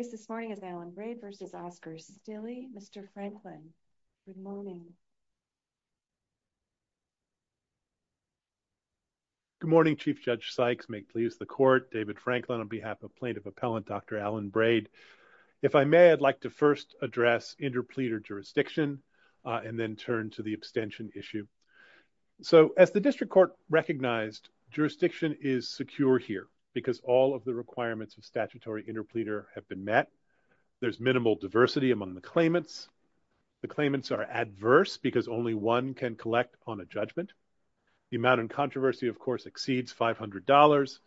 Good morning, Chief Judge Sykes. May it please the Court. David Franklin on behalf of Plaintiff Appellant Dr. Alan Braid. If I may, I'd like to first address interpleader jurisdiction and then turn to the abstention issue. So as the District Court recognized, jurisdiction is secure here because all of the requirements of statutory interpleader have been met. There's minimal diversity among the claimants. The claimants are adverse because only one can collect on a judgment. The amount in controversy, of course, exceeds $500.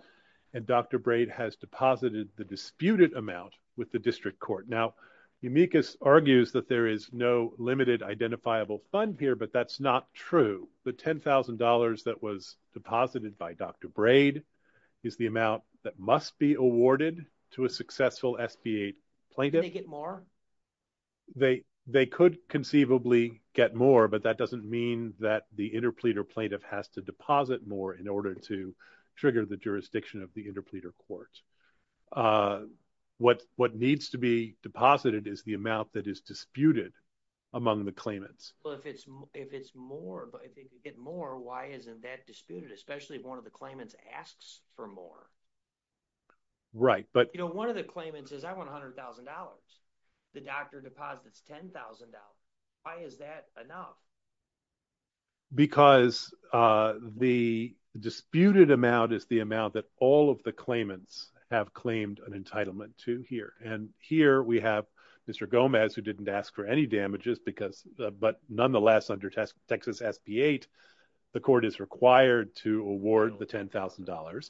And Dr. Braid has deposited the disputed amount with the District Court. Now, Umicus argues that there is no limited identifiable fund here, but that's not true. The $10,000 that was deposited by Dr. Braid is the amount that must be awarded to a successful SB8 plaintiff. Can they get more? They could conceivably get more, but that doesn't mean that the interpleader plaintiff has to deposit more in order to trigger the jurisdiction of the interpleader court. What needs to be deposited is the amount that is disputed among the claimants. Well, if it's more, but if they could get more, why isn't that disputed, especially if one of the claimants asks for more? Right. But, you know, one of the claimants says, I want $100,000. The doctor deposits $10,000. Why is that enough? Because the disputed amount is the amount that all of the claimants have claimed an entitlement to here. And here we have Mr. Gomez, who didn't ask for any damages because, but nonetheless, under Texas SB8, the court is required to award the $10,000.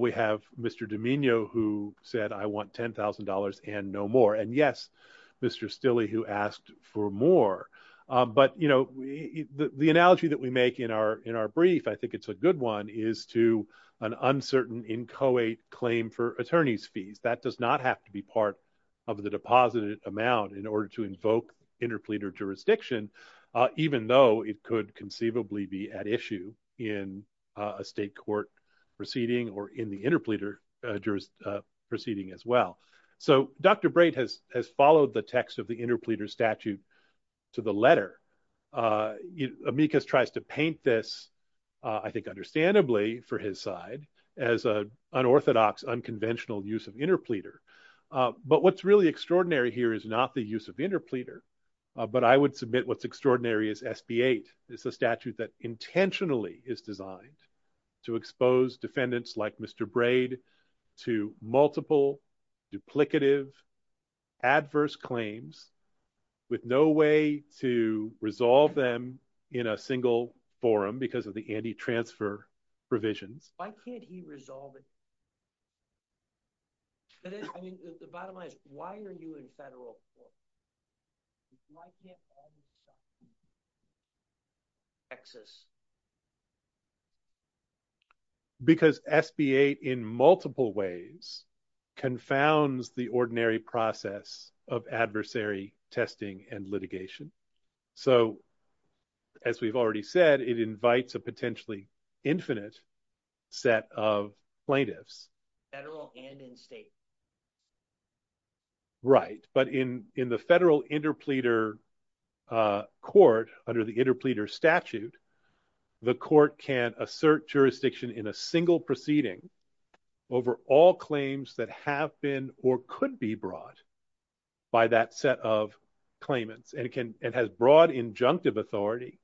We have Mr. Domingo, who said, I want $10,000 and no more. And yes, Mr. Stille, who asked for more. But, you know, the analogy that we make in our brief, I think it's a good one, is to an uncertain inchoate claim for attorney's fees. That does not have to be part of the deposited amount in order to invoke interpleader jurisdiction, even though it could conceivably be at issue in a state court proceeding or in the interpleader proceeding as well. So Dr. Brate has followed the text of the interpleader statute to the letter. Amicus tries to paint this, I think understandably for his side, as an unorthodox, unconventional use of interpleader. But what's really extraordinary here is not the use of interpleader, but I would submit what's extraordinary is SB8. It's a statute that intentionally is designed to expose defendants like Mr. Brate to multiple, duplicative, adverse claims with no way to resolve them in a single forum because of the anti-transfer provisions. Why can't he resolve it? That is, I mean, the bottom line is, why are you in federal court? Why can't all these guys be in Texas? Because SB8 in multiple ways confounds the ordinary process of adversary testing and litigation. So as we've already said, it invites a potentially infinite set of plaintiffs. Right, but in the federal interpleader court under the interpleader statute, the court can assert jurisdiction in a single proceeding over all claims that have been or could be brought by that set of claimants. And it has broad injunctive authority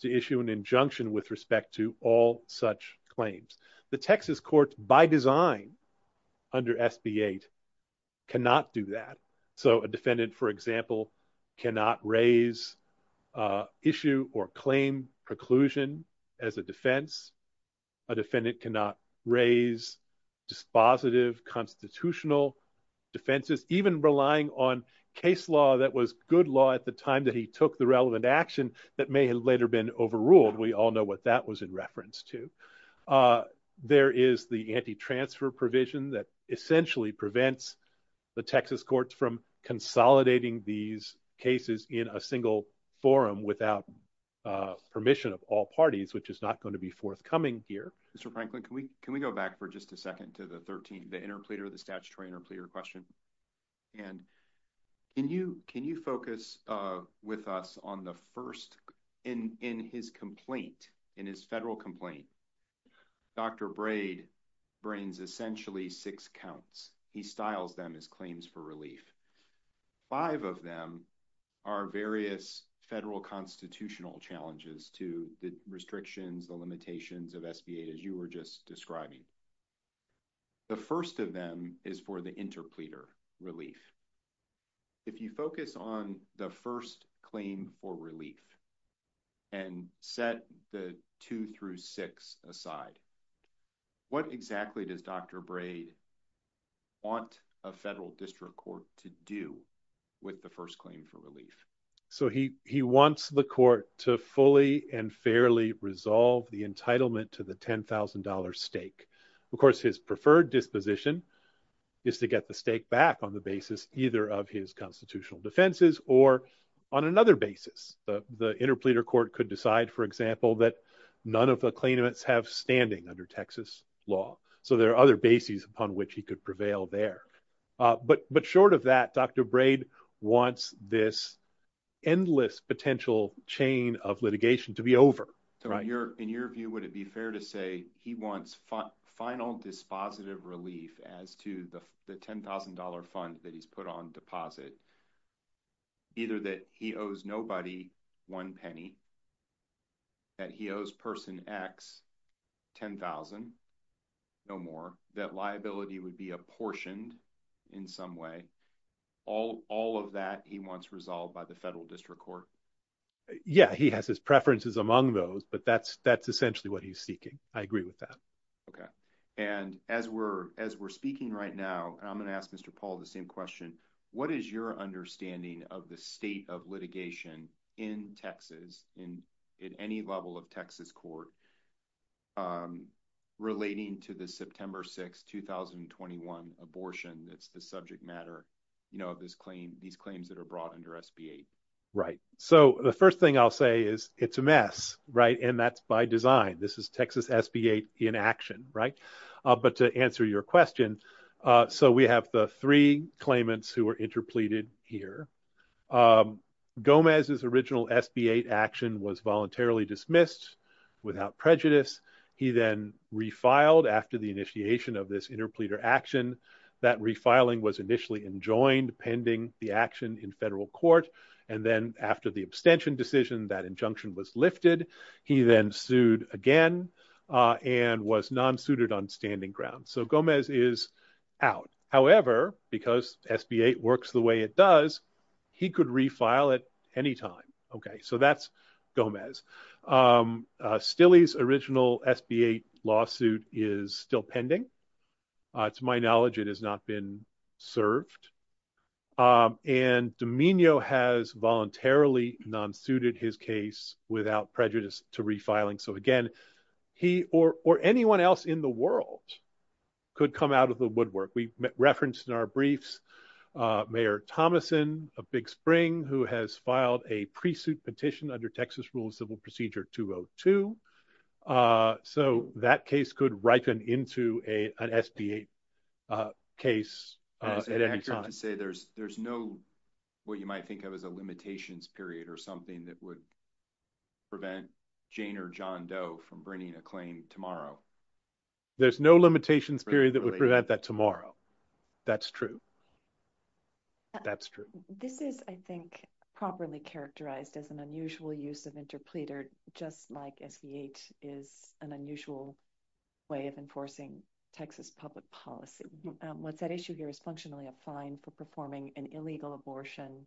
to issue an injunction with respect to all such claims. The Texas court by design under SB8 cannot do that. So a defendant, for example, cannot raise issue or claim preclusion as a defense. A defendant cannot raise dispositive constitutional defenses, even relying on case law that was good law at the time that he took the relevant action that may have later been overruled. We all know what that was in reference to. There is the anti-transfer provision that essentially prevents the Texas courts from consolidating these cases in a single forum without permission of all parties, which is not going to be forthcoming here. Mr. Franklin, can we go back for just a second to the 13th, the interpleader, the statutory interpleader question? And can you focus with us on the first, in his complaint, in his federal complaint, Dr. Braid brings essentially six counts. He styles them as relief. Five of them are various federal constitutional challenges to the restrictions, the limitations of SB8, as you were just describing. The first of them is for the interpleader relief. If you focus on the first claim for relief and set the two through six aside, what exactly does Dr. Braid want the district court to do with the first claim for relief? So he wants the court to fully and fairly resolve the entitlement to the $10,000 stake. Of course, his preferred disposition is to get the stake back on the basis either of his constitutional defenses or on another basis. The interpleader court could decide, for example, that none of the claimants have standing under Texas law. So there are other bases upon which he could prevail there. But short of that, Dr. Braid wants this endless potential chain of litigation to be over. So in your view, would it be fair to say he wants final dispositive relief as to the $10,000 fund that he's put on deposit? Either that he owes nobody one penny, that he owes person X 10,000, no more, that liability would be apportioned in some way, all of that he wants resolved by the federal district court? Yeah, he has his preferences among those, but that's essentially what he's seeking. I agree with that. Okay. And as we're speaking right now, and I'm going to ask Mr. Paul the same question, what is your understanding of the state of in Texas, in any level of Texas court relating to the September 6th, 2021 abortion that's the subject matter of these claims that are brought under SB8? Right. So the first thing I'll say is it's a mess, right? And that's by design. This is Texas SB8 in action, right? But to answer your question, so we have the three claimants who were interpleaded here. Gomez's original SB8 action was voluntarily dismissed without prejudice. He then refiled after the initiation of this interpleader action, that refiling was initially enjoined pending the action in federal court. And then after the abstention decision, that injunction was lifted. He then sued again and was non-suited on standing ground. So Gomez is out. However, because SB8 works the way it does, he could refile at any time. Okay. So that's Gomez. Stille's original SB8 lawsuit is still pending. To my knowledge, it has not been served. And Domingo has voluntarily non-suited his case without prejudice to refiling. So again, he or anyone else in the world could come out of the woodwork. We referenced in our briefs, Mayor Thomason of Big Spring, who has filed a pre-suit petition under Texas Rules of Civil Procedure 202. So that case could ripen into an SB8 case at any time. I was going to say there's no, what you might think of as a limitations period or something that would prevent Jane or John Doe from bringing a claim tomorrow. There's no limitations period that would prevent that tomorrow. That's true. That's true. This is, I think, properly characterized as an unusual use of interpleader, just like SB8 is an unusual way of enforcing Texas public policy. What's at issue here is functionally a fine for performing an illegal abortion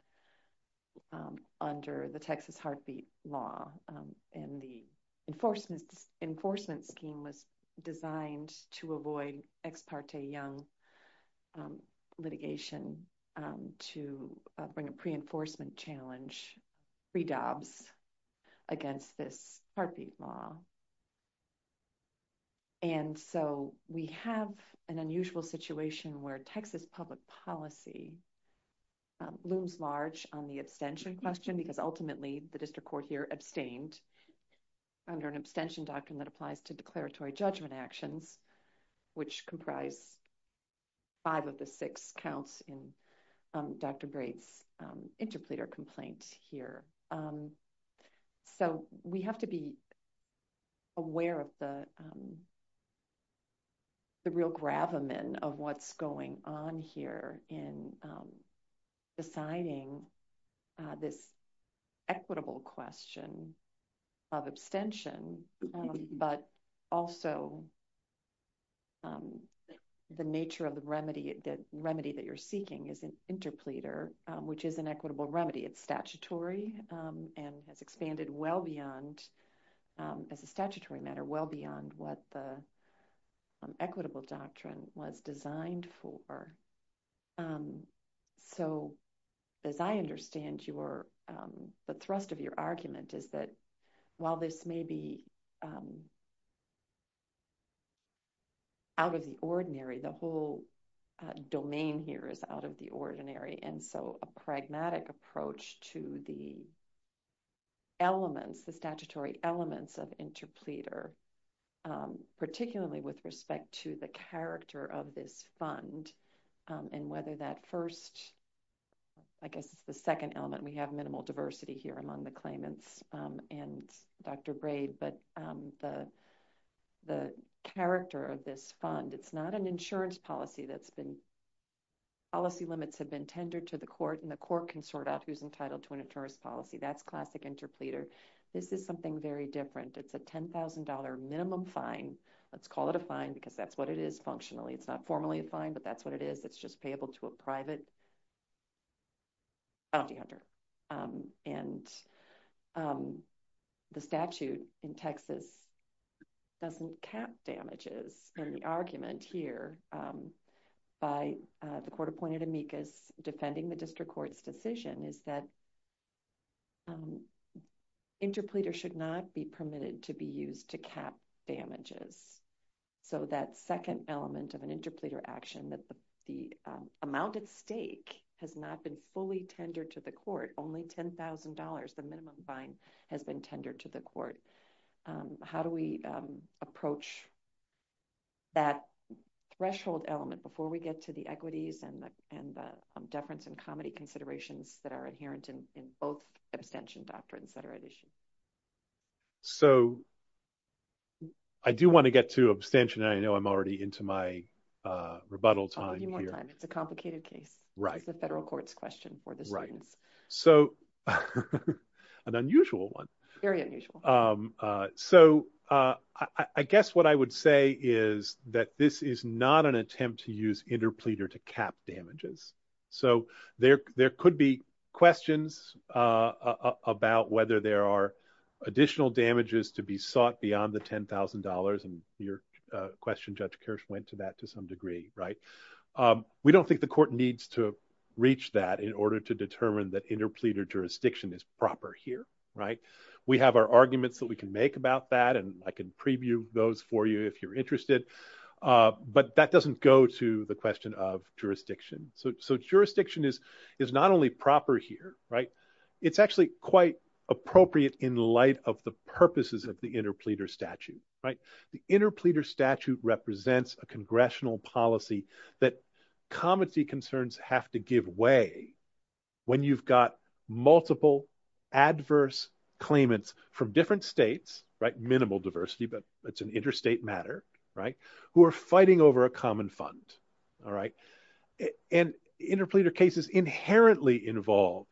under the Texas heartbeat law. And the enforcement scheme was designed to avoid ex parte young litigation to bring a pre-enforcement challenge, pre-dobs against this heartbeat law. And so we have an unusual situation where Texas public policy looms large on the abstention question because ultimately the district court here abstained under an abstention doctrine that applies to declaratory judgment actions, which comprise five of the six counts in Dr. Braith's interpleader complaint here. So we have to be aware of the real gravamen of what's going on here in deciding this equitable question of abstention, but also the nature of the remedy that you're seeking is an interpleader, which is an equitable remedy. It's statutory and has expanded well beyond, as a statutory matter, well beyond what the equitable doctrine was designed for. So as I understand your, the thrust of your argument is that while this may be out of the ordinary, the whole domain here is out of the ordinary. And so a pragmatic approach to the elements, the statutory elements of interpleader, particularly with respect to the character of this fund and whether that first, I guess it's the second element, we have minimal diversity here among the claimants and Dr. Braith, but the character of this fund, it's not an insurance policy that's been, policy limits have been tendered to the court and the court can sort out who's entitled to an insurance policy. That's classic interpleader. This is something very different. It's a $10,000 minimum fine. Let's call it a fine because that's what it is functionally. It's not formally a fine, but that's what it is. It's just payable to a private bounty hunter. And the statute in Texas doesn't cap damages. And the argument here by the court appointed amicus defending the district court's decision is that interpleader should not be permitted to be used to cap damages. So that second element of an amount at stake has not been fully tendered to the court. Only $10,000, the minimum fine has been tendered to the court. How do we approach that threshold element before we get to the equities and the deference and comedy considerations that are inherent in both abstention doctrines that are at issue? So I do want to get to abstention. I know I'm already into my rebuttal time here. It's a complicated case. It's a federal court's question for the students. So an unusual one. Very unusual. So I guess what I would say is that this is not an attempt to use interpleader to cap damages. So there could be questions about whether there are additional damages to be sought beyond the $10,000. And your question, Judge Kirsch, went to that to some degree. We don't think the court needs to reach that in order to determine that interpleader jurisdiction is proper here. We have our arguments that we can make about that. And I can preview those for you if you're interested. But that doesn't go to the question of jurisdiction. So jurisdiction is not only proper here. It's actually quite appropriate in light of the purposes of the interpleader statute. The interpleader statute represents a congressional policy that comedy concerns have to give way when you've got multiple adverse claimants from different states, minimal diversity, but it's an interstate matter, who are fighting over a common fund. And interpleader cases inherently involve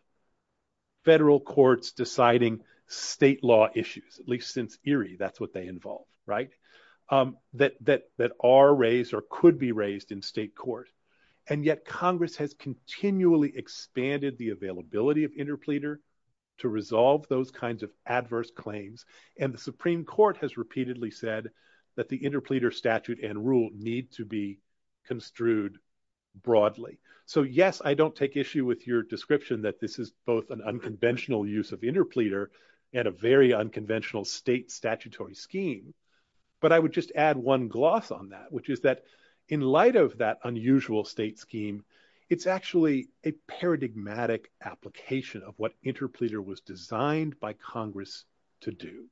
federal courts deciding state law issues, at least since Erie, that's what they involve, that are raised or could be raised in state court. And yet Congress has continually expanded the availability of interpleader to resolve those kinds of adverse claims. And the Supreme Court has repeatedly said that the interpleader statute and rule need to be construed broadly. So yes, I don't take issue with your description that this is both an unconventional use of interpleader and a very unconventional state statutory scheme. But I would just add one gloss on that, which is that in light of that unusual state scheme, it's actually a paradigmatic application of what interpleader was designed by Congress to do.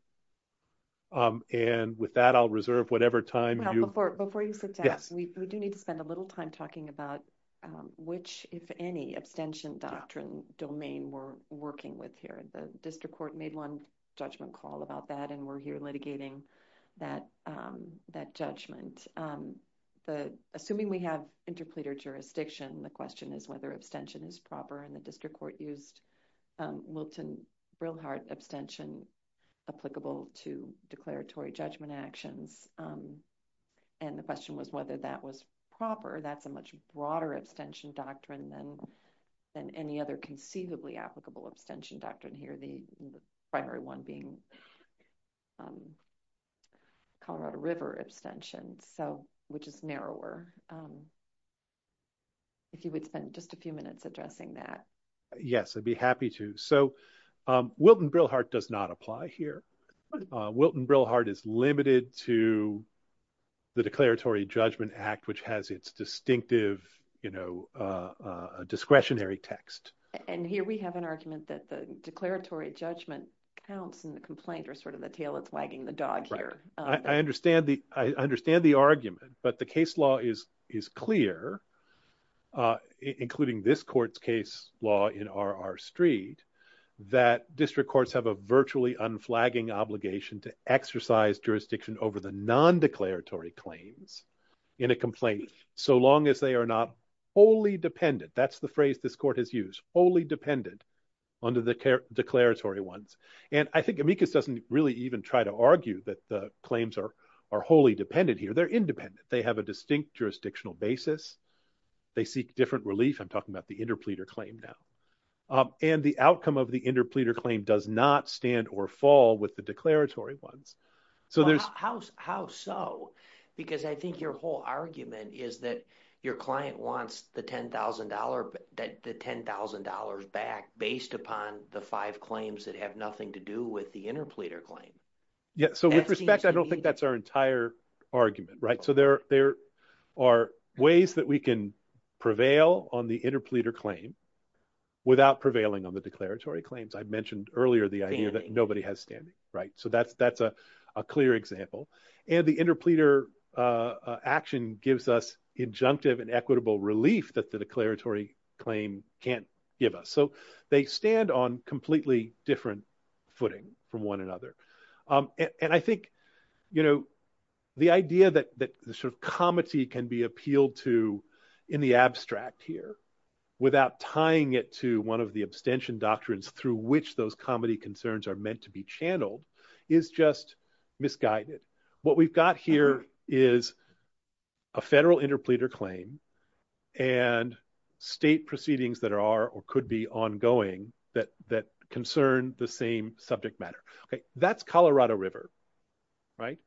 And with that, I'll reserve whatever time you have. Before you sit down, we do need to spend a little time talking about which, if any, abstention doctrine domain we're working with here. The district court made one judgment call about that, and we're here litigating that judgment. Assuming we have interpleader jurisdiction, the question is whether abstention is proper, and the district court used Wilton-Brilhart abstention applicable to declaratory judgment actions. And the question was whether that was proper. That's a much broader abstention doctrine than any other conceivably applicable abstention doctrine here, the primary one being Colorado River abstention, which is narrower. If you would spend just a few minutes addressing that. Yes, I'd be happy to. So, Wilton-Brilhart does not apply here. Wilton-Brilhart is limited to the Declaratory Judgment Act, which has its distinctive discretionary text. And here we have an argument that the declaratory judgment counts, and the complaint are sort of the tail that's wagging the dog here. I understand the argument, but the case law is clear, including this court's case law in R.R. Street, that district courts have a virtually unflagging obligation to exercise jurisdiction over the non-declaratory claims in a complaint so long as they are not wholly dependent. That's the phrase this court has used, wholly dependent under the declaratory ones. And I think Amicus doesn't really even try to argue that the claims are wholly dependent here. They're independent. They have a distinct jurisdictional basis. They seek different relief. I'm talking about the interpleader claim now. And the outcome of the interpleader claim does not stand or fall with the declaratory ones. Well, how so? Because I think your whole argument is that your client wants the $10,000 back based upon the five claims that have nothing to do with the interpleader claim. Yeah. So with respect, I don't think that's our entire argument, right? So there are ways that we can prevail on the interpleader claim without prevailing on the declaratory claims. I mentioned earlier the idea that nobody has standing, right? So that's a clear example. And the interpleader action gives us injunctive and equitable relief that the declaratory claim can't give us. So they stand on completely different footing from one another. And I think the idea that the sort of comity can be appealed to in the abstract here without tying it to one of the abstention doctrines through which those comity concerns are meant to be channeled is just misguided. What we've got here is a federal interpleader claim and state proceedings that are or could be ongoing that concern the same subject matter. Okay. That's Colorado River, right?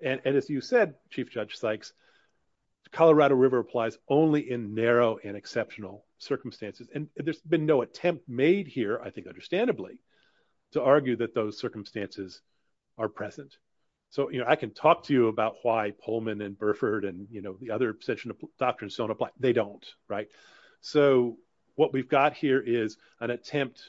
And as you said, Chief Judge Sykes, Colorado River applies only in narrow and exceptional circumstances. And there's been no attempt made here, I think understandably, to argue that those circumstances are present. So I can talk to you about why Pullman and Burford and the other abstention doctrines don't apply. They don't, right? So what we've got here is an attempt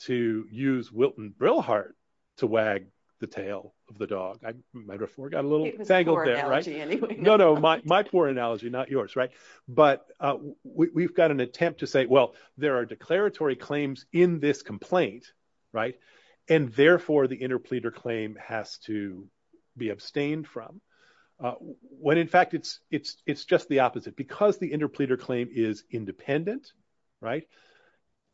to use Wilton Brillhardt to wag the tail of the dog. My metaphor got a little tangled there, right? No, no. My poor analogy, not yours, right? But we've got an attempt to say, well, there are declaratory claims in this complaint, right? And therefore, the interpleader claim has to be abstained from. When in fact, it's just the opposite. Because the interpleader claim is independent, right?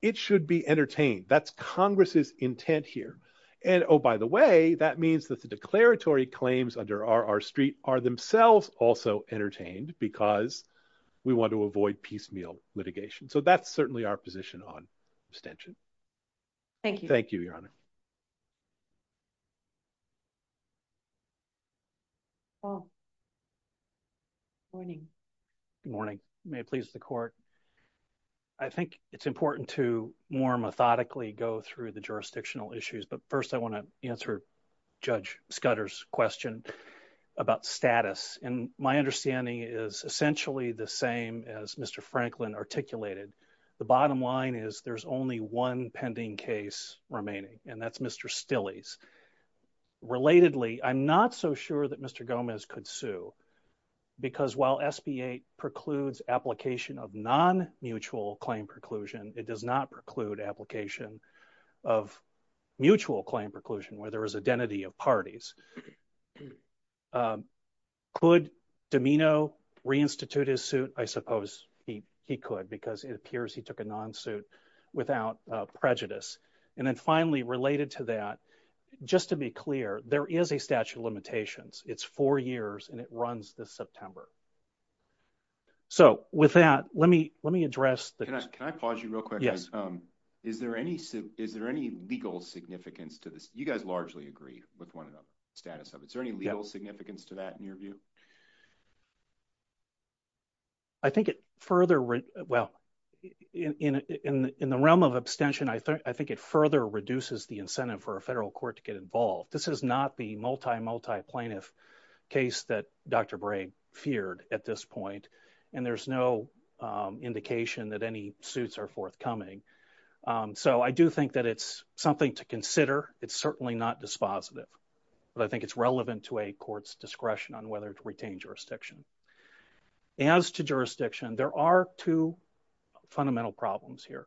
It should be entertained. That's Congress's intent here. And oh, by the way, that means that the declaratory claims under R.R. Street are themselves also entertained because we want to avoid piecemeal litigation. So that's certainly our position on abstention. Thank you. Thank you, Your Honor. Morning. Good morning. May it please the court. I think it's important to more methodically go through the jurisdictional issues. But first I want to answer Judge Scudder's question about status. And my understanding is essentially the same as Mr. Franklin articulated. The bottom line is there's only one pending case remaining. And that's Mr. Stilley's. Relatedly, I'm not so sure that Mr. Gomez could sue. Because while SB 8 precludes application of non-mutual claim preclusion, it does not preclude application of mutual claim preclusion where there is identity of parties. Could Domeno re-institute his suit? I suppose he could because it appears he took a non-suit without prejudice. And then finally, related to that, just to be clear, there is a statute of limitations. It's four years and it runs this September. So with that, let me let me address that. Can I pause you real quick? Yes. Is there any is there any legal significance to this? You status of it. Is there any legal significance to that in your view? I think it further well in in in the realm of abstention, I think I think it further reduces the incentive for a federal court to get involved. This is not the multi multi plaintiff case that Dr. Bragg feared at this point. And there's no indication that any suits are forthcoming. So I do think that it's something to consider. It's certainly not dispositive, but I think it's relevant to a court's discretion on whether to retain jurisdiction. As to jurisdiction, there are two fundamental problems here.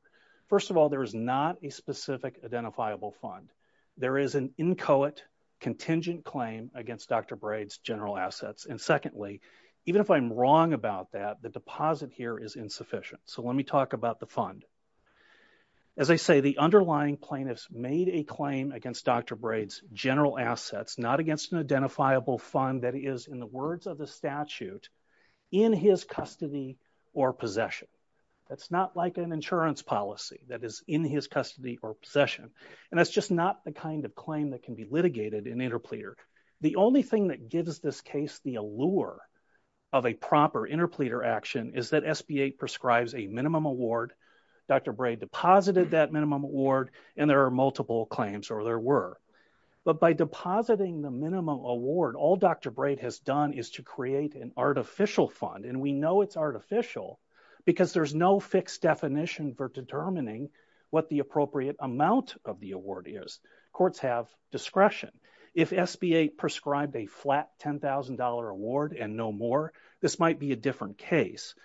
First of all, there is not a specific identifiable fund. There is an inchoate contingent claim against Dr. Braid's general assets. And secondly, even if I'm wrong about that, the deposit here is insufficient. So let talk about the fund. As I say, the underlying plaintiffs made a claim against Dr. Braid's general assets, not against an identifiable fund that is in the words of the statute, in his custody or possession. That's not like an insurance policy that is in his custody or possession. And that's just not the kind of claim that can be litigated in interpleader. The only thing that gives this case the allure of a proper interpleader action is that SBA prescribes a minimum award. Dr. Braid deposited that minimum award and there are multiple claims, or there were. But by depositing the minimum award, all Dr. Braid has done is to create an artificial fund. And we know it's artificial because there's no fixed definition for determining what the appropriate amount of the award is. Courts have discretion. If SBA prescribed a flat $10,000 award and no more, this might be a different case.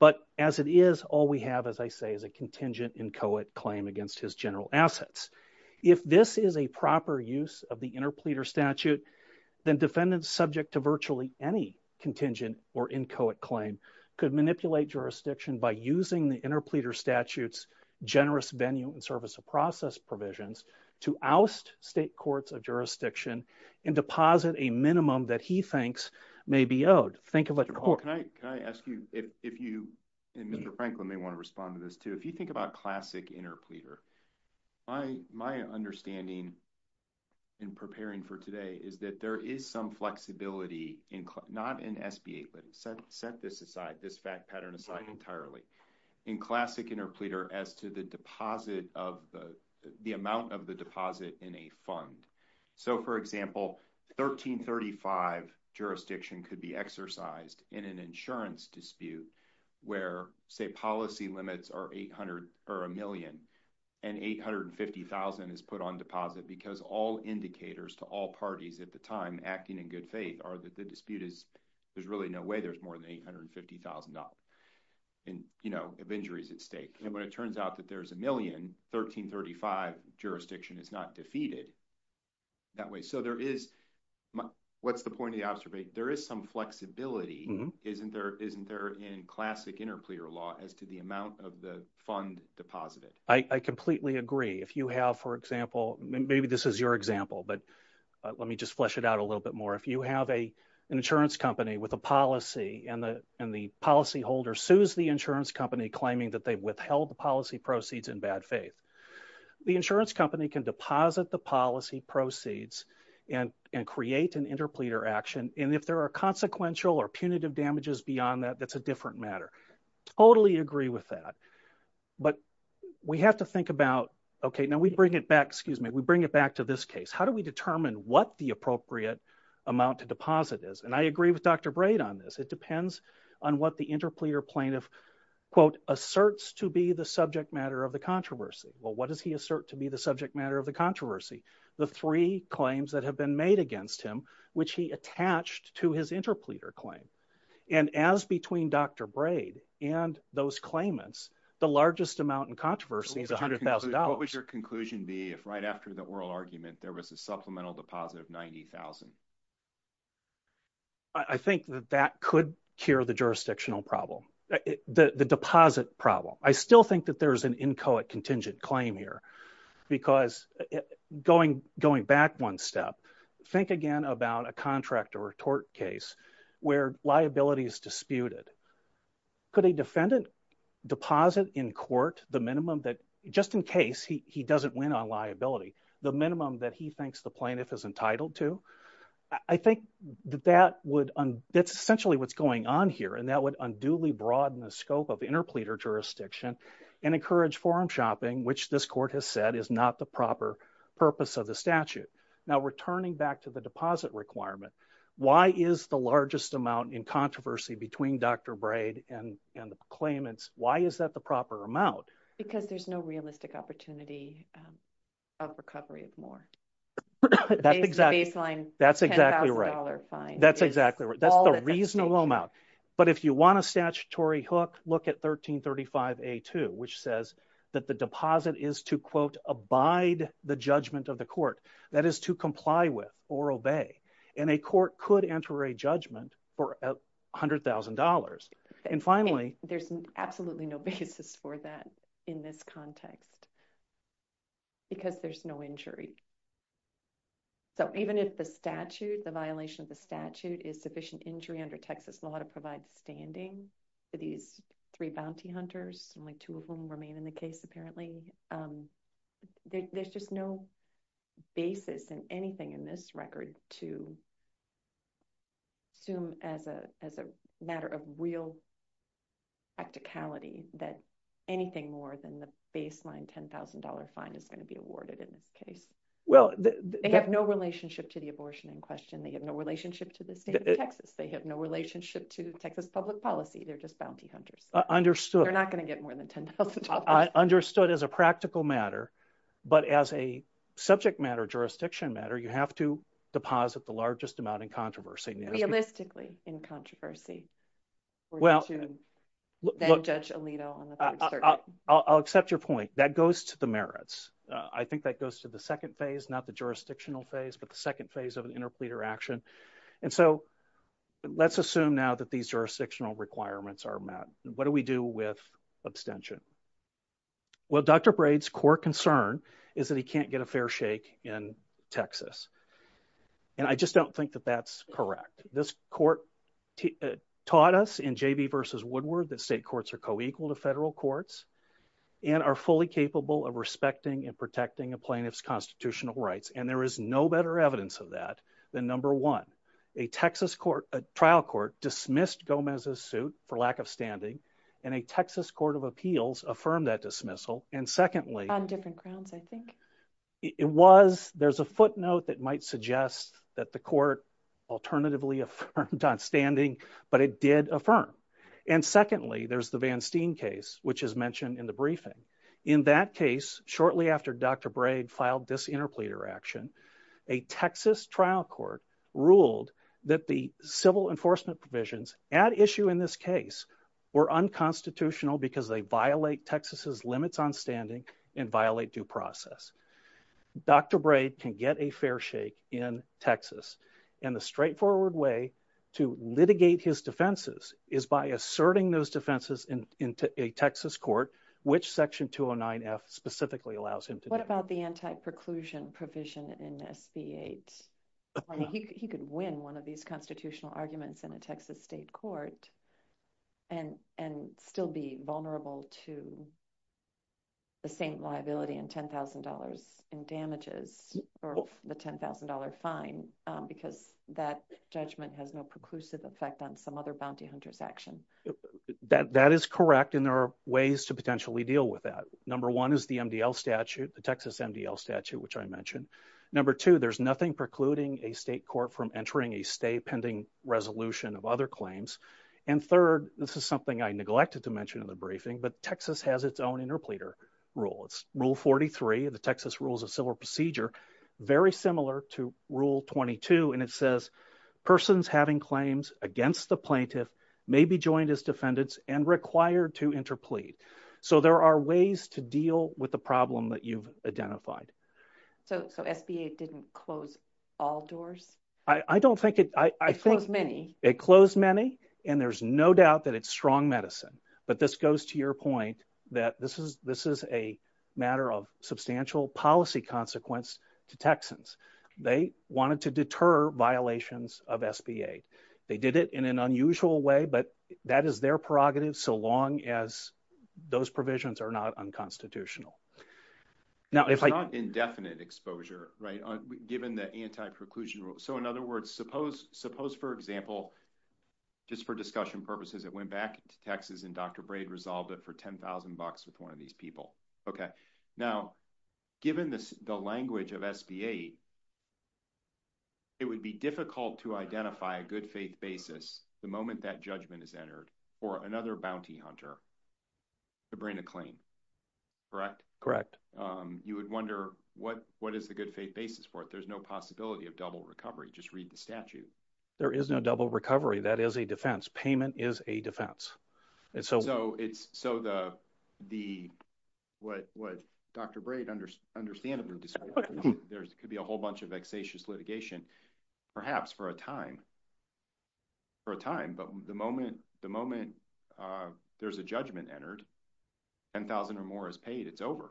But as it is, all we have, as I say, is a contingent inchoate claim against his general assets. If this is a proper use of the interpleader statute, then defendants subject to virtually any contingent or inchoate claim could manipulate jurisdiction by using the interpleader statute's generous venue and service of process provisions to oust state courts of jurisdiction and deposit a minimum that he thinks may be owed. Think of it. Can I ask you if you, and Mr. Franklin may want to respond to this too, if you think about classic interpleader, my understanding in preparing for today is that there is some flexibility in, not in SBA, but set this aside, this fact pattern aside entirely, in classic interpleader as to the deposit of the, the amount of the deposit in a fund. So for example, 1335 jurisdiction could be exercised in an insurance dispute where say policy limits are 800 or a million and 850,000 is put on deposit because all indicators to all parties at the time acting in good faith are that the dispute is, there's really no way there's more than $850,000 in, you know, of injuries at stake. And when it turns out that there's a million, 1335 jurisdiction is not defeated that way. So there is, what's the point of the observation? There is some flexibility, isn't there, isn't there in classic interpleader law as to the amount of the fund deposited? I, I completely agree. If you have, for example, maybe this is your example, but let me just flesh it out a little bit more. If you have a, an insurance company with a policy and the, and the policy holder sues the insurance company claiming that they've withheld the policy proceeds in bad faith, the insurance company can deposit the policy proceeds and, and create an interpleader action. And if there are consequential or punitive damages beyond that, that's a different matter. Totally agree with that. But we have to think about, okay, now we bring it back. Excuse me. We bring it back to this case. How do we determine what the appropriate amount to deposit is? And I agree with Dr. Braid on this. It depends on what the interpleader plaintiff quote, asserts to be the subject matter of the controversy. Well, what does he assert to be the subject matter of the controversy? The three claims that have been made against him, which he attached to his interpleader claim. And as between Dr. Braid and those claimants, the largest amount in controversy is a hundred thousand dollars. What would your conclusion be if right after the oral argument, there was a supplemental deposit of 90,000? I think that that could cure the jurisdictional problem, the deposit problem. I still think that there's an inchoate contingent claim here because going, going back one step, think again about a contract or a tort case where liability is disputed. Could a defendant deposit in court the minimum that just in case he doesn't win on liability, the minimum that he thinks the plaintiff is entitled to? I think that that would, that's essentially what's going on here. And that would unduly broaden the scope of interpleader jurisdiction and encourage forum shopping, which this court has said is not the proper purpose of the statute. Now, returning back to the deposit requirement, why is the largest amount in controversy between Dr. Braid and the claimants? Why is that the proper amount? Because there's no realistic opportunity of recovery of more. That's the baseline $10,000 fine. That's exactly right. That's the reasonable amount. But if you want a statutory hook, look at 1335A2, which says that the deposit is to, quote, abide the judgment of the court, that is to comply with or obey. And a court could enter a judgment for a hundred thousand dollars. And finally, there's absolutely no basis for that in this context because there's no injury. So even if the statute, the violation of the statute, is sufficient injury under Texas law to provide standing for these three bounty hunters, only two of whom remain in the case apparently, there's just no basis in anything in this record to assume as a matter of real practicality that anything more than the baseline $10,000 fine is going to be awarded in this case. Well, they have no relationship to the abortion in question. They have no relationship to the state of Texas. They have no relationship to Texas public policy. They're just bounty hunters. They're not going to get more than $10,000. Understood as a practical matter. But as a subject matter, jurisdiction matter, you have to deposit the largest amount in controversy. Realistically in controversy. Well, I'll accept your point. That goes to the merits. I think that goes to the second phase, not the jurisdictional phase, but the second phase of an interpleader action. And so let's assume now that these jurisdictional requirements are met. What do we do with abstention? Well, Dr. Braid's core concern is that he can't get a fair shake in Texas. And I just don't think that that's correct. This court taught us in JV versus Woodward that state courts are co-equal to federal courts and are fully capable of respecting and protecting a plaintiff's constitutional rights. And there is no better evidence of that than number one, a Texas court, a trial court dismissed Gomez's suit for lack of standing and a Texas court of appeals affirmed that dismissal. And secondly, On different grounds, I think. It was, there's a footnote that might suggest that the court alternatively affirmed on standing, but it did affirm. And secondly, there's the Van Steen case, which is mentioned in the briefing. In that case, shortly after Dr. Braid filed this interpleader action, a Texas trial court ruled that the civil enforcement provisions at issue in this case were unconstitutional because they violate Texas's limits on standing and violate due process. Dr. Braid can get a fair shake in Texas and the straightforward way to litigate his defenses is by asserting those defenses in a Texas court, which section 209 F specifically allows him to. What about the anti-preclusion provision in SB 8? He could win one of these constitutional arguments in a Texas state court and, and still be vulnerable to. The same liability and $10,000 in damages for the $10,000 fine, because that judgment has no preclusive effect on some other bounty hunters action that that is correct. And there are ways to potentially deal with that. Number one is the MDL statute, the Texas MDL statute, which I mentioned number two, there's nothing precluding a state court from entering a stay pending resolution of other claims. And third, this is something I neglected to mention in the briefing, but Texas has its own interpleader rule. It's rule 43 of the Texas rules of civil procedure, very similar to rule 22. And it says persons having claims against the plaintiff may be joined as defendants and required to interplead. So there are ways to deal with the problem that you've identified. So, so SBA didn't close all doors. I don't think it, I think it closed many and there's no doubt that it's strong medicine, but this goes to your point that this is, this is a matter of substantial policy consequence to Texans. They wanted to deter violations of SBA. They did it in an unusual way, but that is their prerogative so long as those provisions are not unconstitutional. Now, it's not indefinite exposure, right? Given the anti-preclusion rule. So in other words, suppose, suppose, for example, just for discussion purposes, it went back to Texas and Dr. Braid resolved it for 10,000 bucks with one of these people. Okay. Now, given this, the language of SBA, it would be difficult to identify a good faith basis the moment that correct, correct. You would wonder what, what is the good faith basis for it? There's no possibility of double recovery. Just read the statute. There is no double recovery. That is a defense. Payment is a defense. And so, so it's, so the, the, what, what Dr. Braid understandably described, there could be a whole bunch of vexatious litigation, perhaps for a time, for a time. But the moment, the moment there's a judgment entered, 10,000 or more is paid. It's over.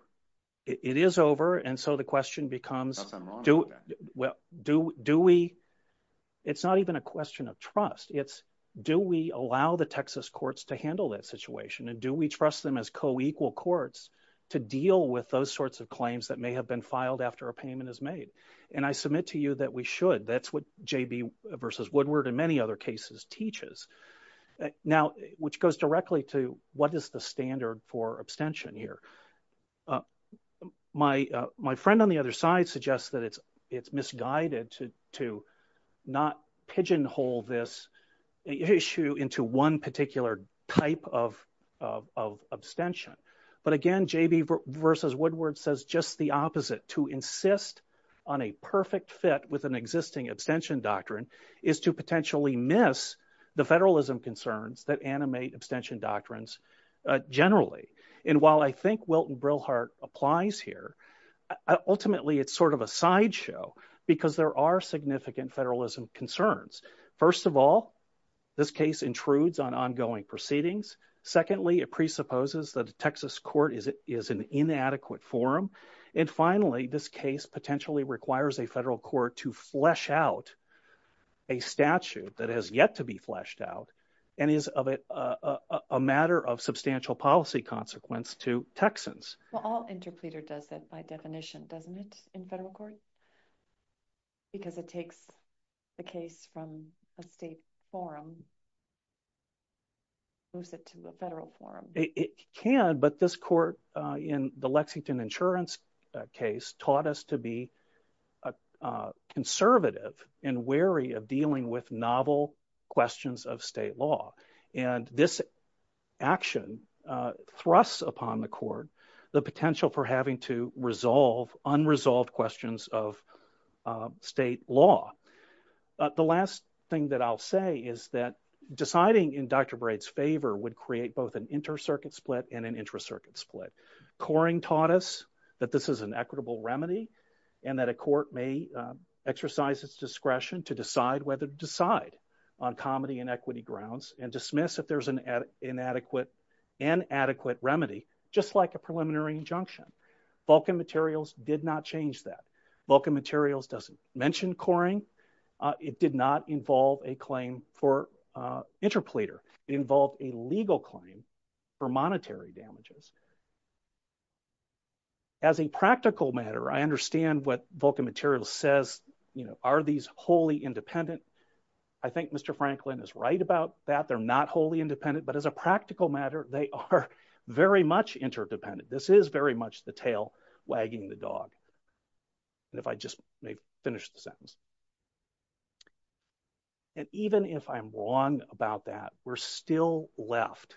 It is over. And so the question becomes, well, do, do we, it's not even a question of trust. It's, do we allow the Texas courts to handle that situation? And do we trust them as co-equal courts to deal with those sorts of claims that may have been filed after a payment is made? And I submit to you that we should. That's what J.B. versus Woodward in many other cases teaches. Now, which goes directly to what is the standard for abstention here? My, my friend on the other side suggests that it's, it's misguided to, to not pigeonhole this issue into one particular type of, of, of abstention. But again, J.B. versus is to potentially miss the federalism concerns that animate abstention doctrines generally. And while I think Wilton Brillhardt applies here, ultimately it's sort of a sideshow because there are significant federalism concerns. First of all, this case intrudes on ongoing proceedings. Secondly, it presupposes that the Texas court is, is an inadequate forum. And finally, this case potentially requires a federal court to flesh out a statute that has yet to be fleshed out and is of a, a matter of substantial policy consequence to Texans. Well, all interpleader does that by definition, doesn't it, in federal court? Because it takes the case from a state forum, moves it to a federal forum. It can, but this court in the Lexington insurance case taught us to be conservative and wary of dealing with novel questions of state law. And this action thrusts upon the court, the potential for having to resolve unresolved questions of state law. The last thing that I'll say is that deciding in Dr. Braid's favor would create both an inter-circuit split and an intra-circuit split. Coring taught us that this is an equitable remedy and that a court may exercise its discretion to decide whether to decide on comedy and equity grounds and dismiss if there's an inadequate and adequate remedy, just like a preliminary injunction. Vulcan materials did not change that. Vulcan materials doesn't mention coring. It did not involve a claim for interpleader. It involved a legal claim for monetary damages. As a practical matter, I understand what Vulcan materials says, you know, are these wholly independent? I think Mr. Franklin is right about that. They're not wholly independent, but as a practical matter, they are very much interdependent. This is very much the tail wagging the dog. And if I just may finish the sentence. And even if I'm wrong about that, we're still left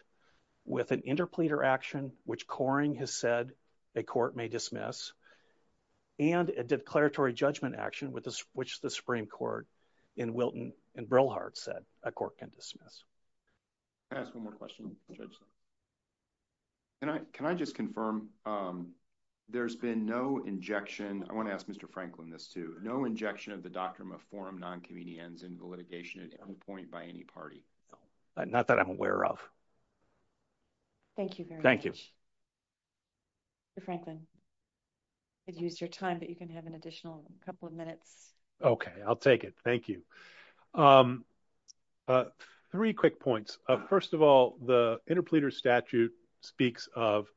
with an interpleader action, which Coring has said a court may dismiss, and a declaratory judgment action, which the Supreme Court in Wilton and Brilhart said a court can dismiss. Can I ask one more question? Can I just confirm, there's been no injection, I want to ask Mr. Franklin this too, no injection of the doctrine of forum non-comedians in the litigation at any point by any party? Not that I'm aware of. Thank you very much. Mr. Franklin, I've used your time, but you can have an additional couple of minutes. Okay, I'll take it. Thank you. Three quick points. First of all, the interpleader statute speaks of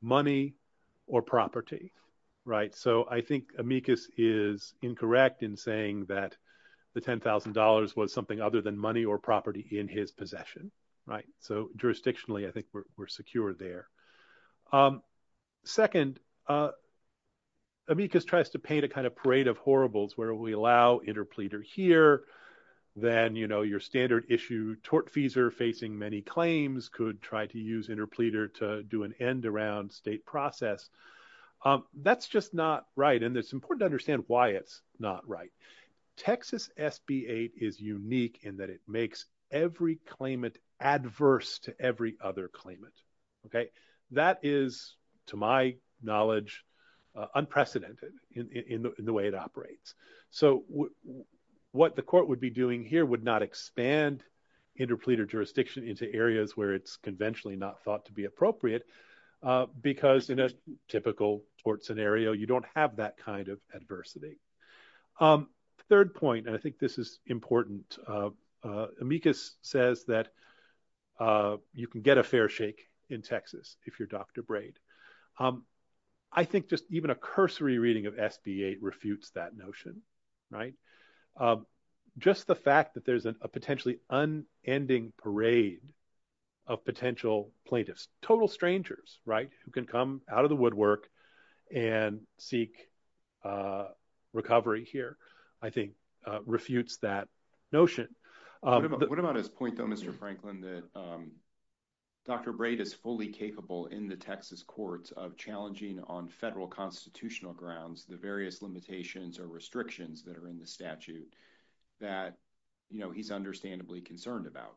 money or property, right? So I think Amicus is incorrect in saying that the $10,000 was something other than money or property in his possession, right? So jurisdictionally, I think we're secure there. Second, Amicus tries to paint a kind of parade of horribles, where we allow interpleader here, then your standard issue tortfeasor facing many claims could try to use interpleader to do an end around state process. That's just not right, and it's important to understand why it's not right. Texas SB 8 is unique in that it makes every claimant adverse to every other claimant, okay? That is, to my knowledge, unprecedented in the way it operates. So what the court would be doing here would not expand interpleader jurisdiction into areas where it's conventionally not thought to be appropriate, because in a typical tort scenario, you don't have that kind of adversity. Third point, and I think this is important, Amicus says that you can get a fair shake in Texas if you're Dr. Braid. I think just even a cursory reading of SB 8 refutes that notion, right? Just the fact that there's a potentially unending parade of potential plaintiffs, total strangers, right, who can come out of the woodwork and seek recovery here, I think refutes that notion. What about his point, though, Mr. Franklin, that Dr. Braid is fully capable in the Texas courts of challenging on federal constitutional grounds the various limitations or restrictions that are in the statute that he's understandably concerned about?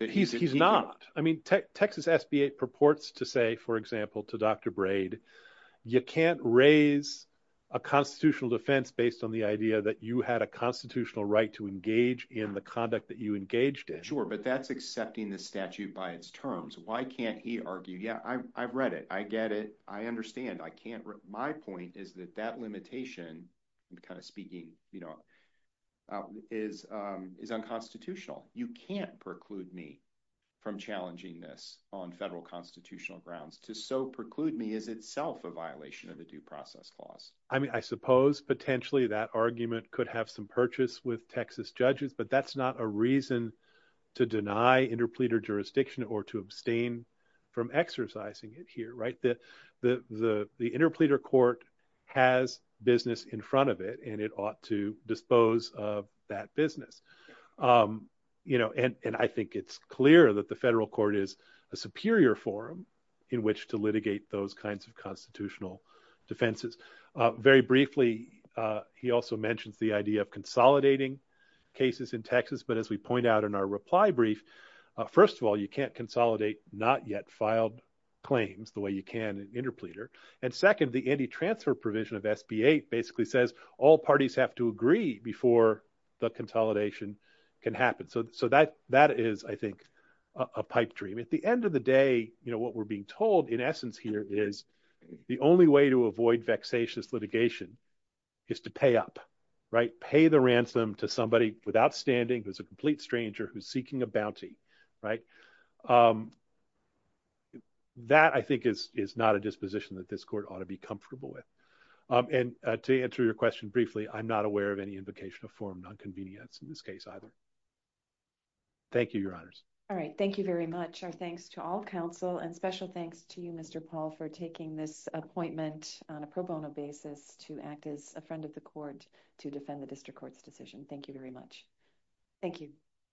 He's not. I mean, Texas SB 8 purports to say, for example, to Dr. Braid, you can't raise a constitutional defense based on the idea that you had a constitutional right to engage in the conduct that you engaged in. Sure, but that's accepting the statute by its terms. Why can't he argue, yeah, I've read it. I get it. I understand. My point is that that limitation, I'm kind of speaking, is unconstitutional. You can't preclude me from challenging this on federal constitutional grounds. To so preclude me is itself a violation of the due process clause. I mean, I suppose potentially that argument could have some purchase with Texas judges, but that's not a reason to deny interpleader jurisdiction or to abstain from exercising it here. The interpleader court has business in front of it, and it ought to dispose of that business. And I think it's clear that the federal court is a superior forum in which to litigate those kinds of constitutional defenses. Very briefly, he also mentions the idea of consolidating cases in Texas. But as we point out in our reply brief, first of all, you can't consolidate not yet filed claims the way you can interpleader. And second, the anti-transfer provision of SB8 basically says all parties have to agree before the consolidation can happen. So that is, I think, a pipe dream. At the end of the day, what we're being told in essence here is the only way to avoid vexatious litigation is to pay up, right? Pay the ransom to somebody without standing, who's a complete stranger, who's seeking a bounty, right? That, I think, is not a disposition that this court ought to be comfortable with. And to answer your question briefly, I'm not aware of any invocation of form non-convenience in this case either. Thank you, your honors. All right. Thank you very much. Our thanks to all counsel and special thanks to you, Mr. Paul, for taking this appointment on a pro bono basis to act as a friend of the court to defend the district court's decision. Thank you very much. Thank you.